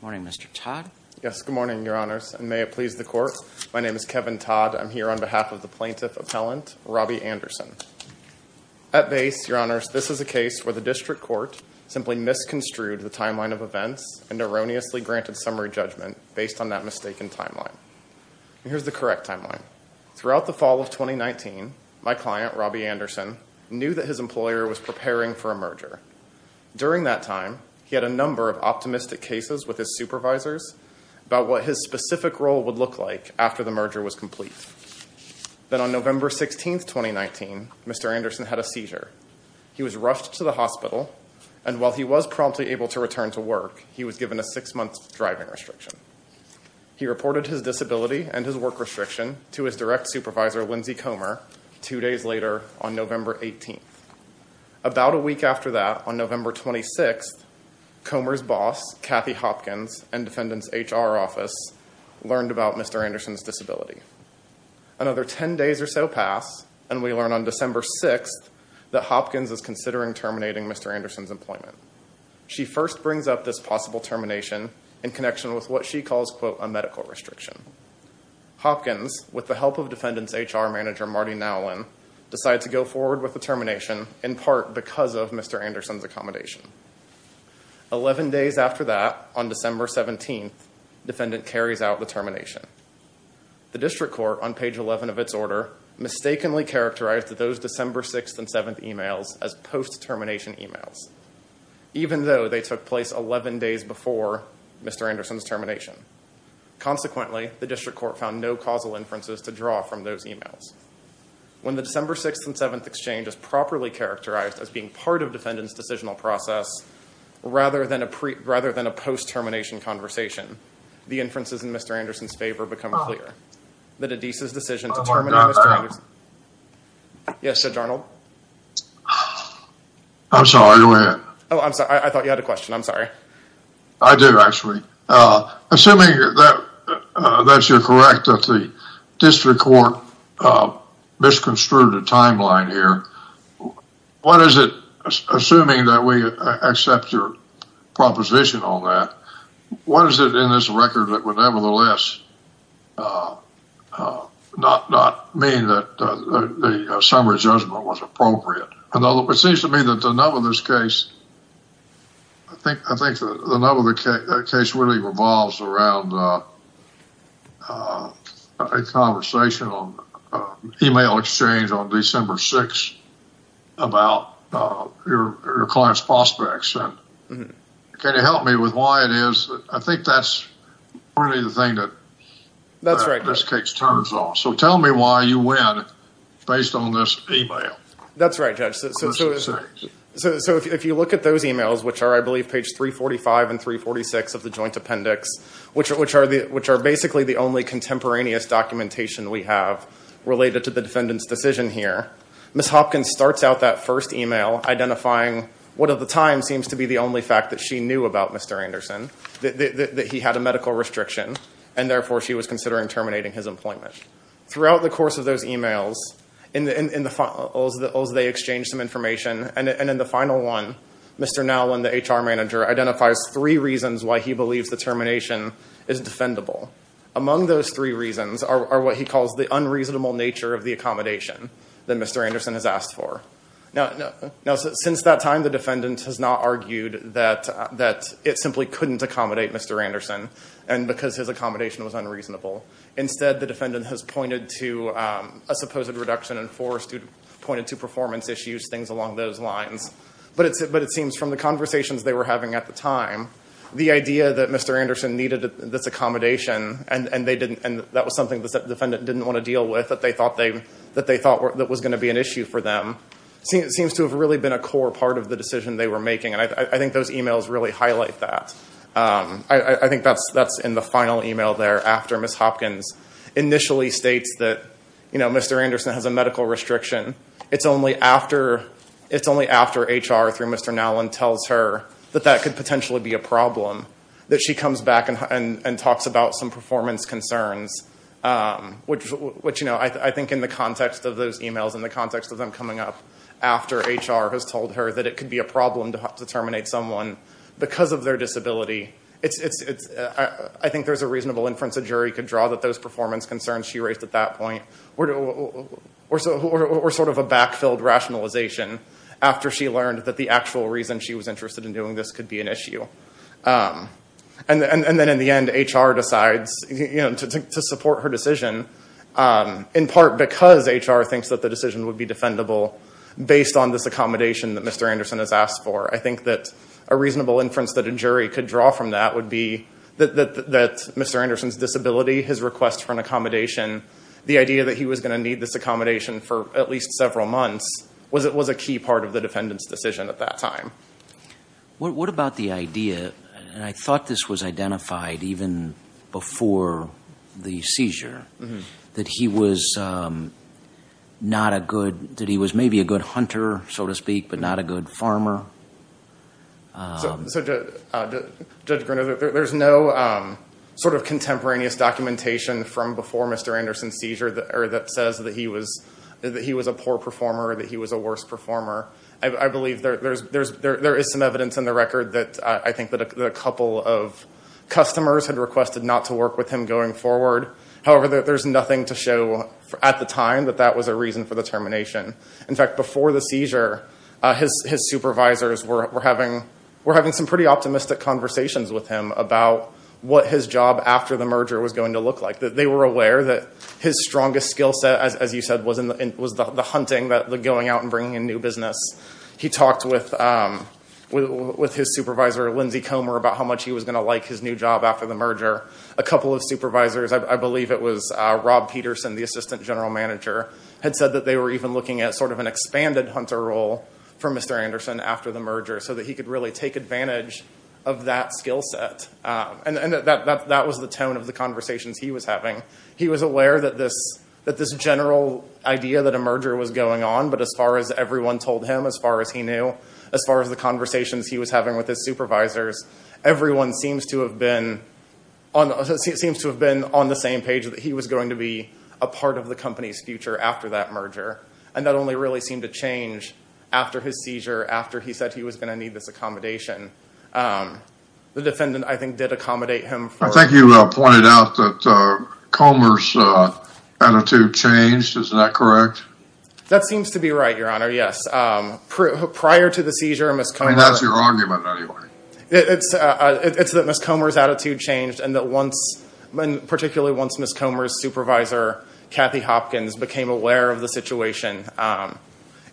Morning, Mr. Todd. Yes, good morning, your honors, and may it please the court. My name is Kevin Todd. I'm here on behalf of the plaintiff appellant, Robbie Anderson. At base, your honors, this is a case where the district court simply misconstrued the timeline of events and erroneously granted summary judgment based on that mistaken timeline. Here's the correct timeline. Throughout the fall of 2019, my client, Robbie Anderson, knew that his During that time, he had a number of optimistic cases with his supervisors about what his specific role would look like after the merger was complete. Then on November 16, 2019, Mr. Anderson had a seizure. He was rushed to the hospital, and while he was promptly able to return to work, he was given a six-month driving restriction. He reported his disability and his work restriction to his direct supervisor, Lindsey Comer, two days later on November 18. About a week after that, on November 26, Comer's boss, Kathy Hopkins, and defendant's HR office learned about Mr. Anderson's disability. Another 10 days or so pass, and we learn on December 6 that Hopkins is considering terminating Mr. Anderson's employment. She first brings up this possible termination in connection with what she calls, quote, a medical restriction. Hopkins, with the help of defendant's HR manager, Marty Nowlin, decides to go forward with the termination in part because of Mr. Anderson's accommodation. Eleven days after that, on December 17, defendant carries out the termination. The district court, on page 11 of its order, mistakenly characterized those December 6 and 7 emails as post-termination emails, even though they took place 11 days before Mr. Anderson's termination. Consequently, the district court found no causal inferences to draw from those emails. When the December 6 and 7 exchange is properly characterized as being part of defendant's decisional process, rather than a post-termination conversation, the inferences in Mr. Anderson's favor become clear, that Edisa's decision to terminate Mr. Anderson's... Oh my God. Yes, Adjournal? I'm sorry, go ahead. Oh, I'm sorry. I thought you had a question. I'm sorry. I do, actually. Assuming that you're correct that the district court misconstrued a timeline here, what is it, assuming that we accept your proposition on that, what is it in this record that would nevertheless not mean that the summary judgment was appropriate? It seems to me that the nub of this case, I think the nub of the case really revolves around a conversation on email exchange on December 6 about your client's prospects. Can you help me with why it is? I think that's really the thing that this case turns on. So tell me why you win based on this email. That's right, Judge. So if you look at those emails, which are I believe page 345 and 346 of the joint appendix, which are basically the only contemporaneous documentation we have related to the defendant's decision here, Ms. Hopkins starts out that first email identifying what at the time seems to be the only fact that she knew about Mr. Anderson, that he had a medical restriction, and therefore she was considering terminating his employment. Throughout the course of those emails, as they exchanged some information, and in the final one, Mr. Nowlin, the HR manager, identifies three reasons why he believes the termination is defendable. Among those three reasons are what he calls the unreasonable nature of the accommodation that Mr. Anderson has asked for. Now since that time, the defendant has not argued that it simply couldn't accommodate Mr. Anderson, and because his accommodation was unreasonable. Instead, the defendant has pointed to a supposed reduction in force, pointed to performance issues, things along those lines. But it seems from the conversations they were having at the time, the idea that Mr. Anderson needed this accommodation, and that was something the defendant didn't want to deal with, that they thought was going to be an issue for them, seems to have really been a core part of the decision they were to make there, after Ms. Hopkins initially states that Mr. Anderson has a medical restriction. It's only after HR, through Mr. Nowlin, tells her that that could potentially be a problem, that she comes back and talks about some performance concerns, which I think in the context of those emails, in the context of them coming up, after HR has told her that it could be a problem to terminate someone because of their disability, I think there's a reasonable inference a jury could draw that those performance concerns she raised at that point were sort of a back-filled rationalization, after she learned that the actual reason she was interested in doing this could be an issue. And then in the end, HR decides to support her decision, in part because HR thinks that the decision would be defendable, based on this accommodation that Mr. Anderson has asked for. I think that a reasonable inference that a jury could for Mr. Anderson's disability, his request for an accommodation, the idea that he was going to need this accommodation for at least several months, was a key part of the defendant's decision at that time. What about the idea, and I thought this was identified even before the seizure, that he was not a good, that he was maybe a good hunter, so to speak, but not a good farmer? So, Judge Gruner, there's no sort of contemporaneous documentation from before Mr. Anderson's seizure that says that he was a poor performer, that he was a worse performer. I believe there is some evidence in the record that I think that a couple of customers had requested not to work with him going forward. However, there's nothing to show at the time that that was a reason for the termination. In fact, before the seizure, his supervisors were having some pretty optimistic conversations with him about what his job after the merger was going to look like. They were aware that his strongest skill set, as you said, was the hunting, going out and bringing in new business. He talked with his supervisor, Lindsey Comer, about how much he was going to like his new job after the merger. A couple of supervisors, I believe it was Rob Peterson, the assistant general manager, had said that they were even looking at sort of an expanded hunter role for Mr. Anderson after the merger, so that he could really take advantage of that skill set. And that was the tone of the conversations he was having. He was aware that this general idea that a merger was going on, but as far as everyone told him, as far as he knew, as far as the conversations he was having with his supervisors, everyone seems to have been seems to have been on the same page that he was going to be a part of the company's future after that merger. And that only really seemed to change after his seizure, after he said he was going to need this accommodation. The defendant, I think, did accommodate him. I think you pointed out that Comer's attitude changed. Isn't that correct? That seems to be right, Your Honor. Yes. Prior to the seizure, Ms. Comer... I mean, that's your argument, anyway. It's that Ms. Comer's attitude changed, and particularly once Ms. Comer's supervisor, Kathy Hopkins, became aware of the situation.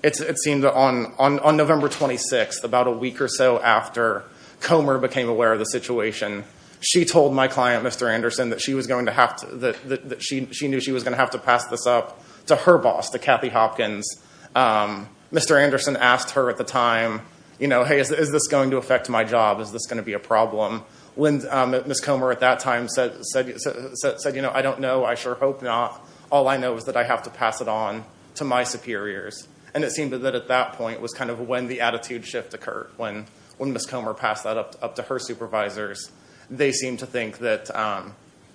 It seemed that on November 26th, about a week or so after Comer became aware of the situation, she told my client, Mr. Anderson, that she was going to have to... that she knew she was going to have to pass this up to her boss, to Kathy Hopkins. Mr. Anderson asked her at the time, you know, hey, is this going to be a job? Is this going to be a problem? When Ms. Comer at that time said, you know, I don't know. I sure hope not. All I know is that I have to pass it on to my superiors. And it seemed that at that point was kind of when the attitude shift occurred, when Ms. Comer passed that up to her supervisors. They seemed to think that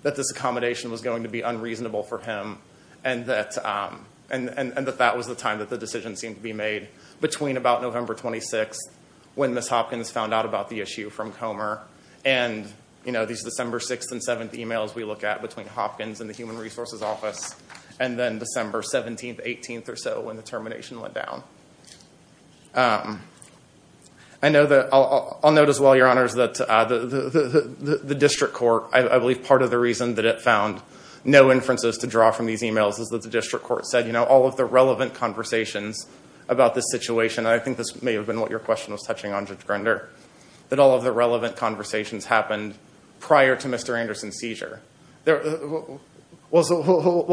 this accommodation was going to be unreasonable for him, and that that was the time that the decision seemed to be made between about November 26th, when Ms. Hopkins found out about the issue from Comer, and, you know, these December 6th and 7th emails we look at between Hopkins and the Human Resources Office, and then December 17th, 18th or so when the termination went down. I know that... I'll note as well, Your Honors, that the district court, I believe part of the reason that it found no inferences to draw from these emails is that the district court said, you know, all of the relevant conversations about this situation, and I think this may have been what your question was touching on, Judge Grinder, that all of the relevant conversations happened prior to Mr. Anderson's seizure. We'll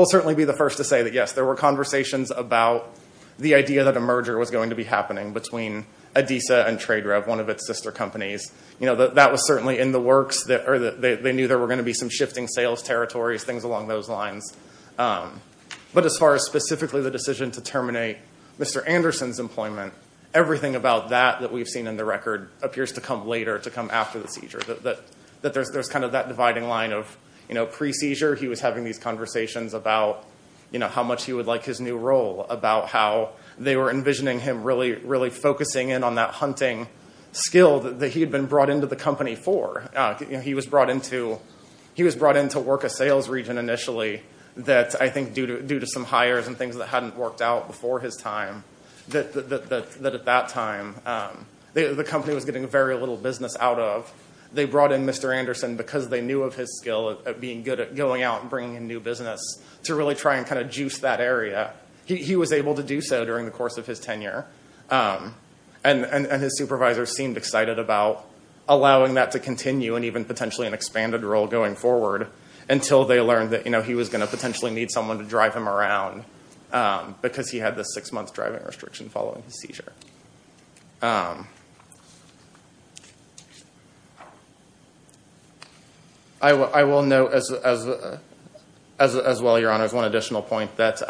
certainly be the first to say that, yes, there were conversations about the idea that a merger was going to be happening between Adisa and TradeRev, one of its sister companies. You know, that was certainly in the works. They knew there were going to be some shifting sales territories, things along those lines. But as far as specifically the decision to terminate Mr. Anderson's employment, everything about that that we've seen in the record appears to come later, to come after the seizure. There's kind of that dividing line of, you know, pre-seizure he was having these conversations about, you know, how much he would like his new role, about how they were envisioning him really focusing in on that hunting skill that he had been brought into the company for. You know, he was brought into work a sales region initially that, I think, due to some hires and things that hadn't worked out before his time, that at that time the company was getting very little business out of. They brought in Mr. Anderson because they knew of his skill at being good at going out and bringing in new business to really try and kind of juice that area. He was able to about allowing that to continue and even potentially an expanded role going forward until they learned that, you know, he was going to potentially need someone to drive him around because he had this six-month driving restriction following his seizure. I will note as well, Your Honors, one additional point that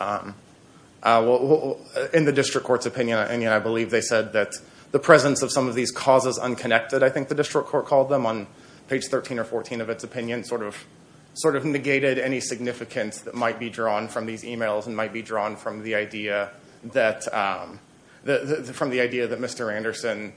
in the district court's opinion, and I believe they said that the presence of some of these causes unconnected, I think the district court called them on page 13 or 14 of its opinion, sort of negated any significance that might be drawn from these emails and might be drawn from the idea that Mr. Anderson,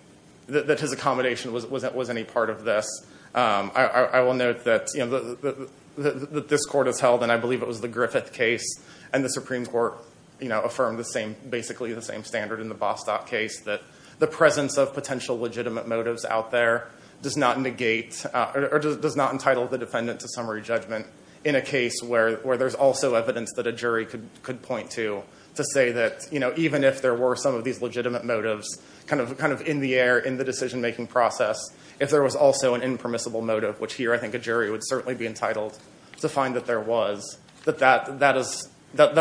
that his accommodation was any part of this. I will note that this court has held, and I believe it was the Griffith case, and the Supreme Court, you know, affirmed the same, basically the same standard in the Bostock case, that the presence of potential legitimate motives out there does not negate or does not entitle the defendant to summary judgment in a case where there's also evidence that a jury could point to to say that, you know, even if there were some of these legitimate motives kind of in the air in the decision making process, if there was also an impermissible motive, which here I think a jury would certainly be entitled to find that there was, that that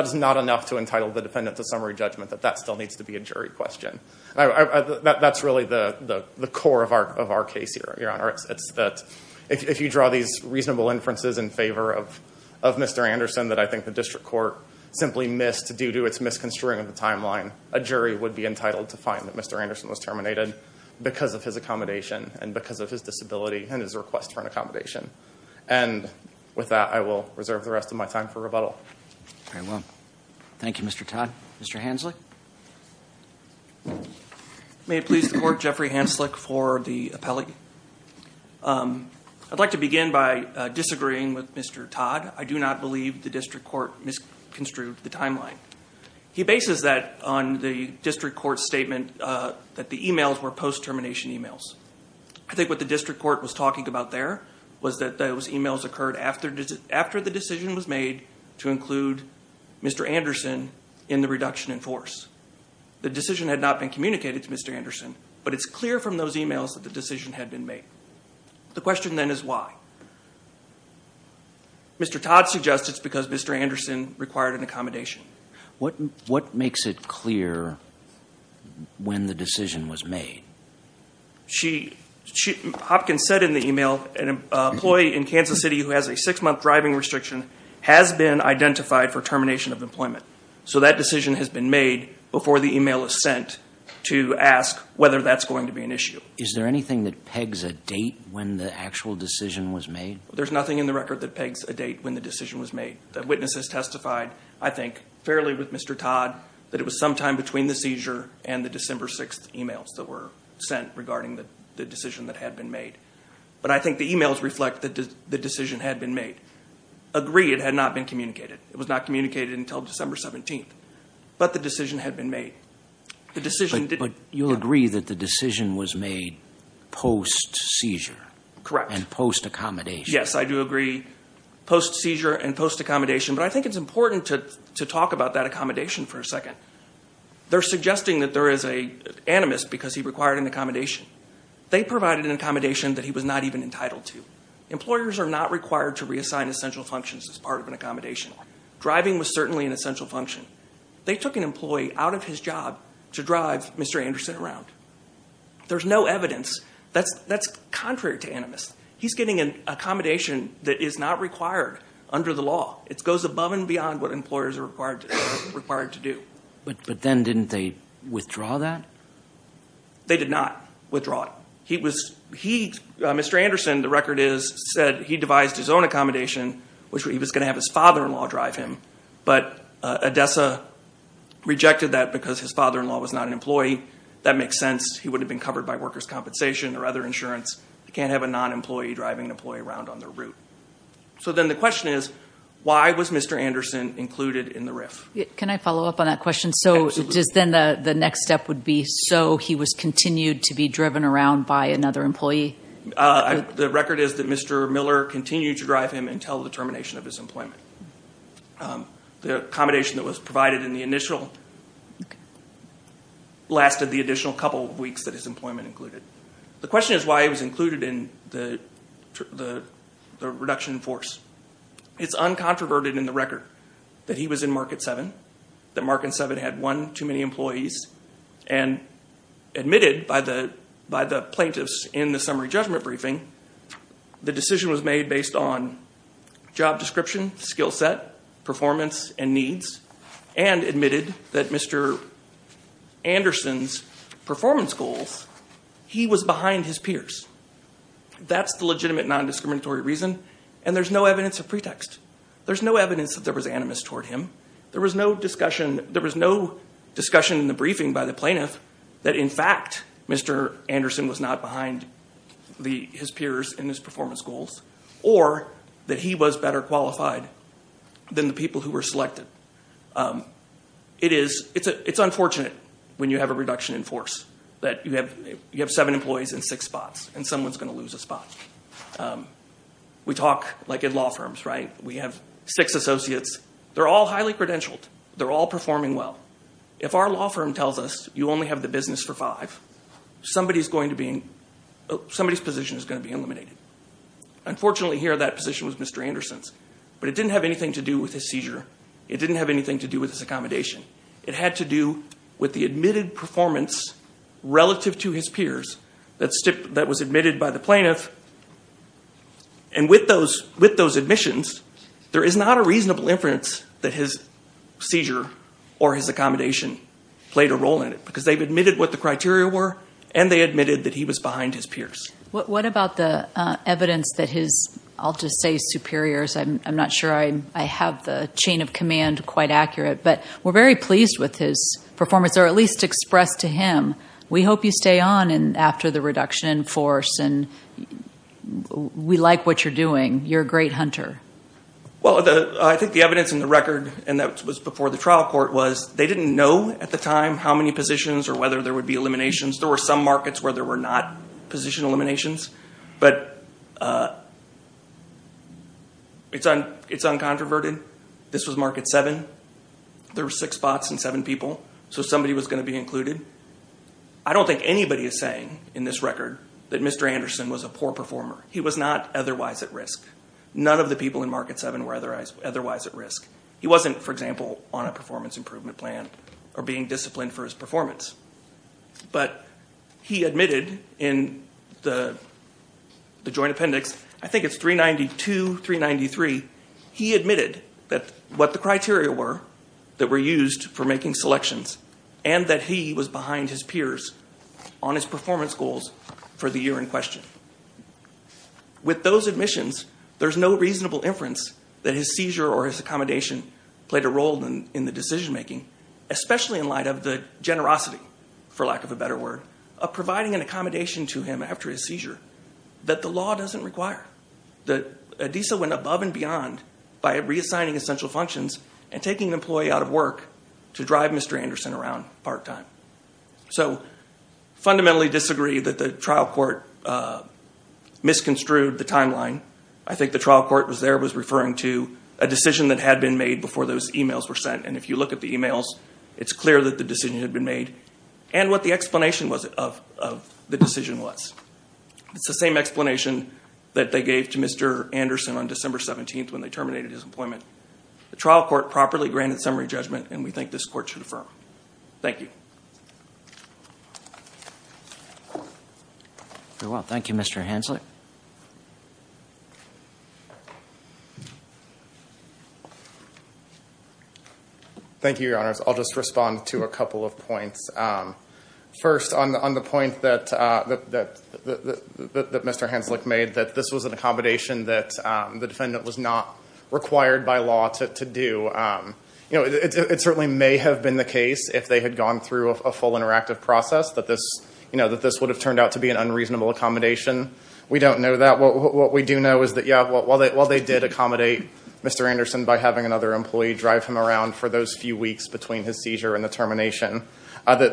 is not enough to entitle the defendant to summary judgment, that that still needs to be a jury question. That's really the core of our case here, Your Honor. It's that if you draw these reasonable inferences in favor of Mr. Anderson that I think the district court simply missed due to its misconstruing of the timeline, a jury would be entitled to find that Mr. Anderson was terminated because of his accommodation and because of his disability and his request for an accommodation. And with that, I will reserve the rest of my time for rebuttal. Very well. Thank you, Mr. Todd. Mr. Hanslick? May it please the Court, Jeffrey Hanslick for the appellate. I'd like to begin by disagreeing with Mr. Todd. I do not believe the district court misconstrued the timeline. He bases that on the district court's statement that the emails were post-termination emails. I think what the district court was talking about there was that those emails occurred after the decision was made to include Mr. Anderson in the reduction in force. The decision had not been communicated to Mr. Anderson, but it's clear from those emails that the decision had been made. The question then is why? Mr. Todd suggests it's because Mr. Anderson required an accommodation. What makes it clear when the decision was made? Hopkins said in the email, an employee in Kansas City who has a six-month driving restriction has been identified for termination of employment. So that decision has been made before the email is sent to ask whether that's going to be an issue. Is there anything that pegs a date when the actual decision was made? There's nothing in the record that pegs a date when the decision was made. The witnesses testified, I think, fairly with Mr. Todd, that it was sometime between the seizure and the December 6th emails that were sent regarding the decision that had been made. But I think the emails reflect that the decision had been made. Agree, it had not been communicated. It was not communicated until December 17th, but the decision had been made. But you'll agree that the decision was made post-seizure and post-accommodation? Yes, I do agree. Post-seizure and post-accommodation. But I think it's important to talk about that accommodation for a second. They're suggesting that there is an animus because he required an accommodation. They provided an accommodation that he was not even entitled to. Employers are not required to reassign essential functions as part of an accommodation. Driving was certainly an essential function. They took an employee out of his job to drive Mr. Anderson around. There's no evidence. That's contrary to animus. He's getting an accommodation that is not required under the law. It goes above and below. They did not withdraw it. Mr. Anderson, the record is, said he devised his own accommodation which he was going to have his father-in-law drive him. But ADESA rejected that because his father-in-law was not an employee. That makes sense. He would have been covered by workers' compensation or other insurance. You can't have a non-employee driving an employee around on their route. So then the question is, why was Mr. Anderson included in the RIF? Can I follow up on that question? So then the next step would be, so he was continued to be driven around by another employee? The record is that Mr. Miller continued to drive him until the termination of his employment. The accommodation that was provided in the initial lasted the additional couple of weeks that his employment included. The question is why he was included in the reduction in force. It's uncontroverted in the record that he was in Market 7, that Market 7 had one too many employees, and admitted by the plaintiffs in the summary judgment briefing, the decision was made based on job description, skill set, performance and needs, and admitted that Mr. Anderson's performance goals, he was behind his peers. That's the legitimate non-discriminatory reason, and there's no evidence of pretext. There's no evidence that there was animus toward him. There was no discussion in the briefing by the plaintiff that in fact Mr. Anderson was not behind his peers in his performance goals, or that he was better qualified than the people who were selected. It's unfortunate when you have a reduction in force, that you have seven employees in six spots, and someone's going to talk like in law firms, right? We have six associates. They're all highly credentialed. They're all performing well. If our law firm tells us you only have the business for five, somebody's position is going to be eliminated. Unfortunately here, that position was Mr. Anderson's, but it didn't have anything to do with his seizure. It didn't have anything to do with his accommodation. It had to do with the admitted performance relative to his peers that was admitted by the plaintiff. With those admissions, there is not a reasonable inference that his seizure or his accommodation played a role in it, because they've admitted what the criteria were, and they admitted that he was behind his peers. What about the evidence that his, I'll just say superiors, I'm not sure I have the chain of command quite accurate, but we're very pleased with his performance, or at least expressed to him, we hope you stay on after the reduction in force, and we like what you're doing. You're a great hunter. I think the evidence in the record, and that was before the trial court, was they didn't know at the time how many positions or whether there would be eliminations. There were some markets where there were not position eliminations, but it's uncontroverted. This was market seven. There were six spots and seven people, so somebody was going to be included. I don't think anybody is saying in this record that Mr. Anderson was a poor performer. He was not otherwise at risk. None of the people in market seven were otherwise at risk. He wasn't, for example, on a performance improvement plan or being disciplined for his performance. He admitted in the joint appendix, I think it's 392, 393, he admitted that what the criteria were that were used for making selections and that he was behind his peers on his performance goals for the year in question. With those admissions, there's no reasonable inference that his seizure or his accommodation played a role in the decision making, especially in light of the generosity, for lack of a better word, of providing an accommodation to him after his seizure that the law doesn't take an employee out of work to drive Mr. Anderson around part time. Fundamentally disagree that the trial court misconstrued the timeline. I think the trial court was there, was referring to a decision that had been made before those emails were sent. If you look at the emails, it's clear that the decision had been made and what the explanation of the decision was. It's the same explanation that they gave to Mr. Anderson on December 17th when they terminated his employment. The trial court properly granted summary judgment and we think this court should affirm. Thank you. Very well. Thank you, Mr. Hanslick. Thank you, your honors. I'll just respond to a couple of points. First, on the point that Mr. Hanslick made, that this was an accommodation that the defendant was not required by law to do. It certainly may have been the case if they had gone through a full interactive process, that this would have turned out to be an unreasonable accommodation. We don't know that. What we do know is that while they did accommodate Mr. Anderson by having another employee drive him around for those few weeks between his seizure and the termination of the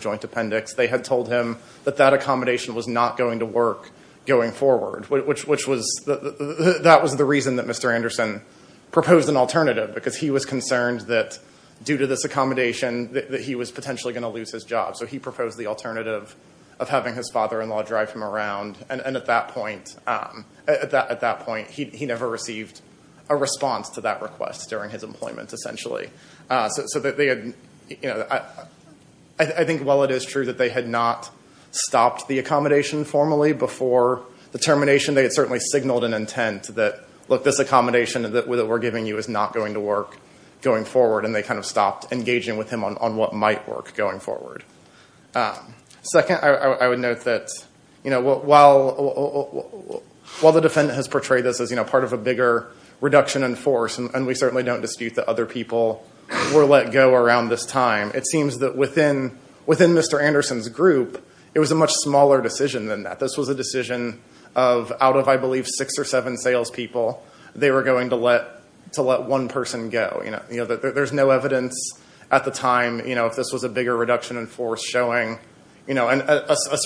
joint appendix, they had told him that that accommodation was not going to work going forward. That was the reason that Mr. Anderson proposed an alternative because he was concerned that due to this accommodation, that he was potentially going to lose his job. So he proposed the alternative of having his father-in-law drive him around and at that point, he never received a response to that request during his employment, essentially. So I think while it is true that they had not stopped the accommodation formally before the termination, they had certainly signaled an intent that this accommodation that we're giving you is not going to work going forward and they stopped engaging with him on what might work going forward. Second, I would note that while the defendant has portrayed this as part of a bigger reduction in force, and we certainly don't dispute that other people were let go around this time, it seems that within Mr. Anderson's group, it was a much smaller decision than that. This was a decision of out of, I believe, six or seven salespeople, they were going to let one person go. There's no evidence at the time if this was a bigger reduction in force showing a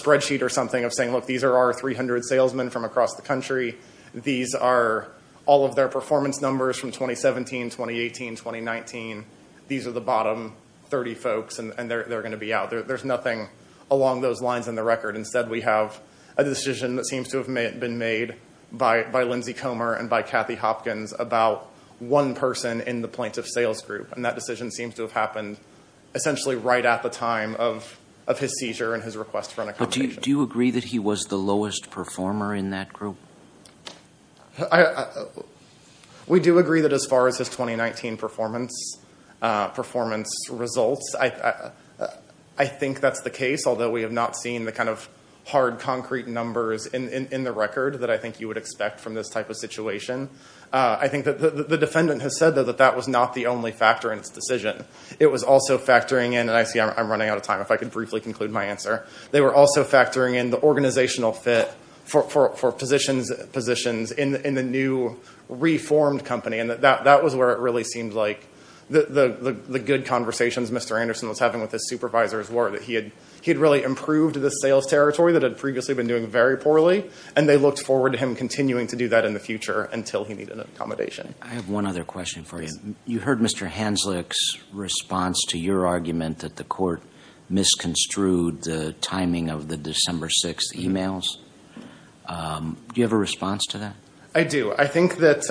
spreadsheet or something of saying, look, these are our 300 salesmen from across the country. These are all of their performance numbers from 2017, 2018, 2019. These are the bottom 30 folks and they're going to be out. There's nothing along those lines in the record. Instead, we have a decision that seems to have been made by Lindsey Comer and by Kathy Hopkins about one person in the plaintiff's sales group and that decision seems to have happened essentially right at the time of his seizure and his request for an accommodation. But do you agree that he was the lowest performer in that group? We do agree that as far as his 2019 performance results, I think that's the case, although we have not seen the kind of hard concrete numbers in the record that I think you would expect from this type of situation. I think that the defendant has said that that was not the only factor in its decision. It was also factoring in, and I see I'm running out of time to answer, they were also factoring in the organizational fit for positions in the new reformed company and that was where it really seemed like the good conversations Mr. Anderson was having with his supervisors were that he had really improved the sales territory that had previously been doing very poorly and they looked forward to him continuing to do that in the future until he needed an accommodation. I have one other question for you. You heard Mr. Hanslick's response to your argument that the court misconstrued the timing of the December 6 emails. Do you have a response to that? I do. I think that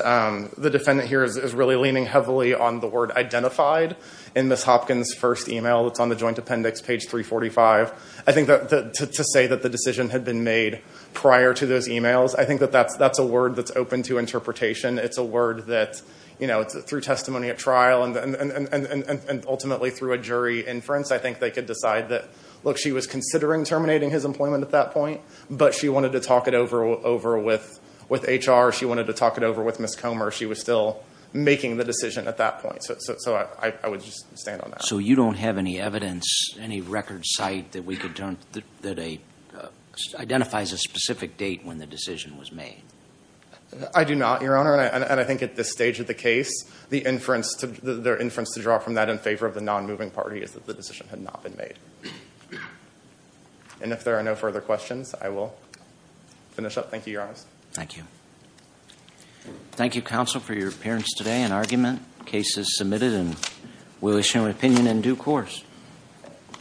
the defendant here is really leaning heavily on the word identified in Ms. Hopkins' first email that's on the joint appendix, page 345. I think that to say that the decision had been made prior to those emails, I think that that's a word that's open to interpretation. It's a word that, you know, through testimony at trial and ultimately through a jury inference, I think they could decide that, look, she was considering terminating his employment at that point, but she wanted to talk it over with HR, she wanted to talk it over with Ms. Comer, she was still making the decision at that point. So I would just stand on that. So you don't have any evidence, any record site that identifies a specific date when the decision was made? I do not, Your Honor, and I think at this stage of the case, the inference to draw from that in favor of the nonmoving party is that the decision had not been made. And if there are no further questions, I will finish up. Thank you, Your Honor. Thank you. Thank you, counsel, for your appearance today and argument. The case is submitted and we'll issue an opinion in due course.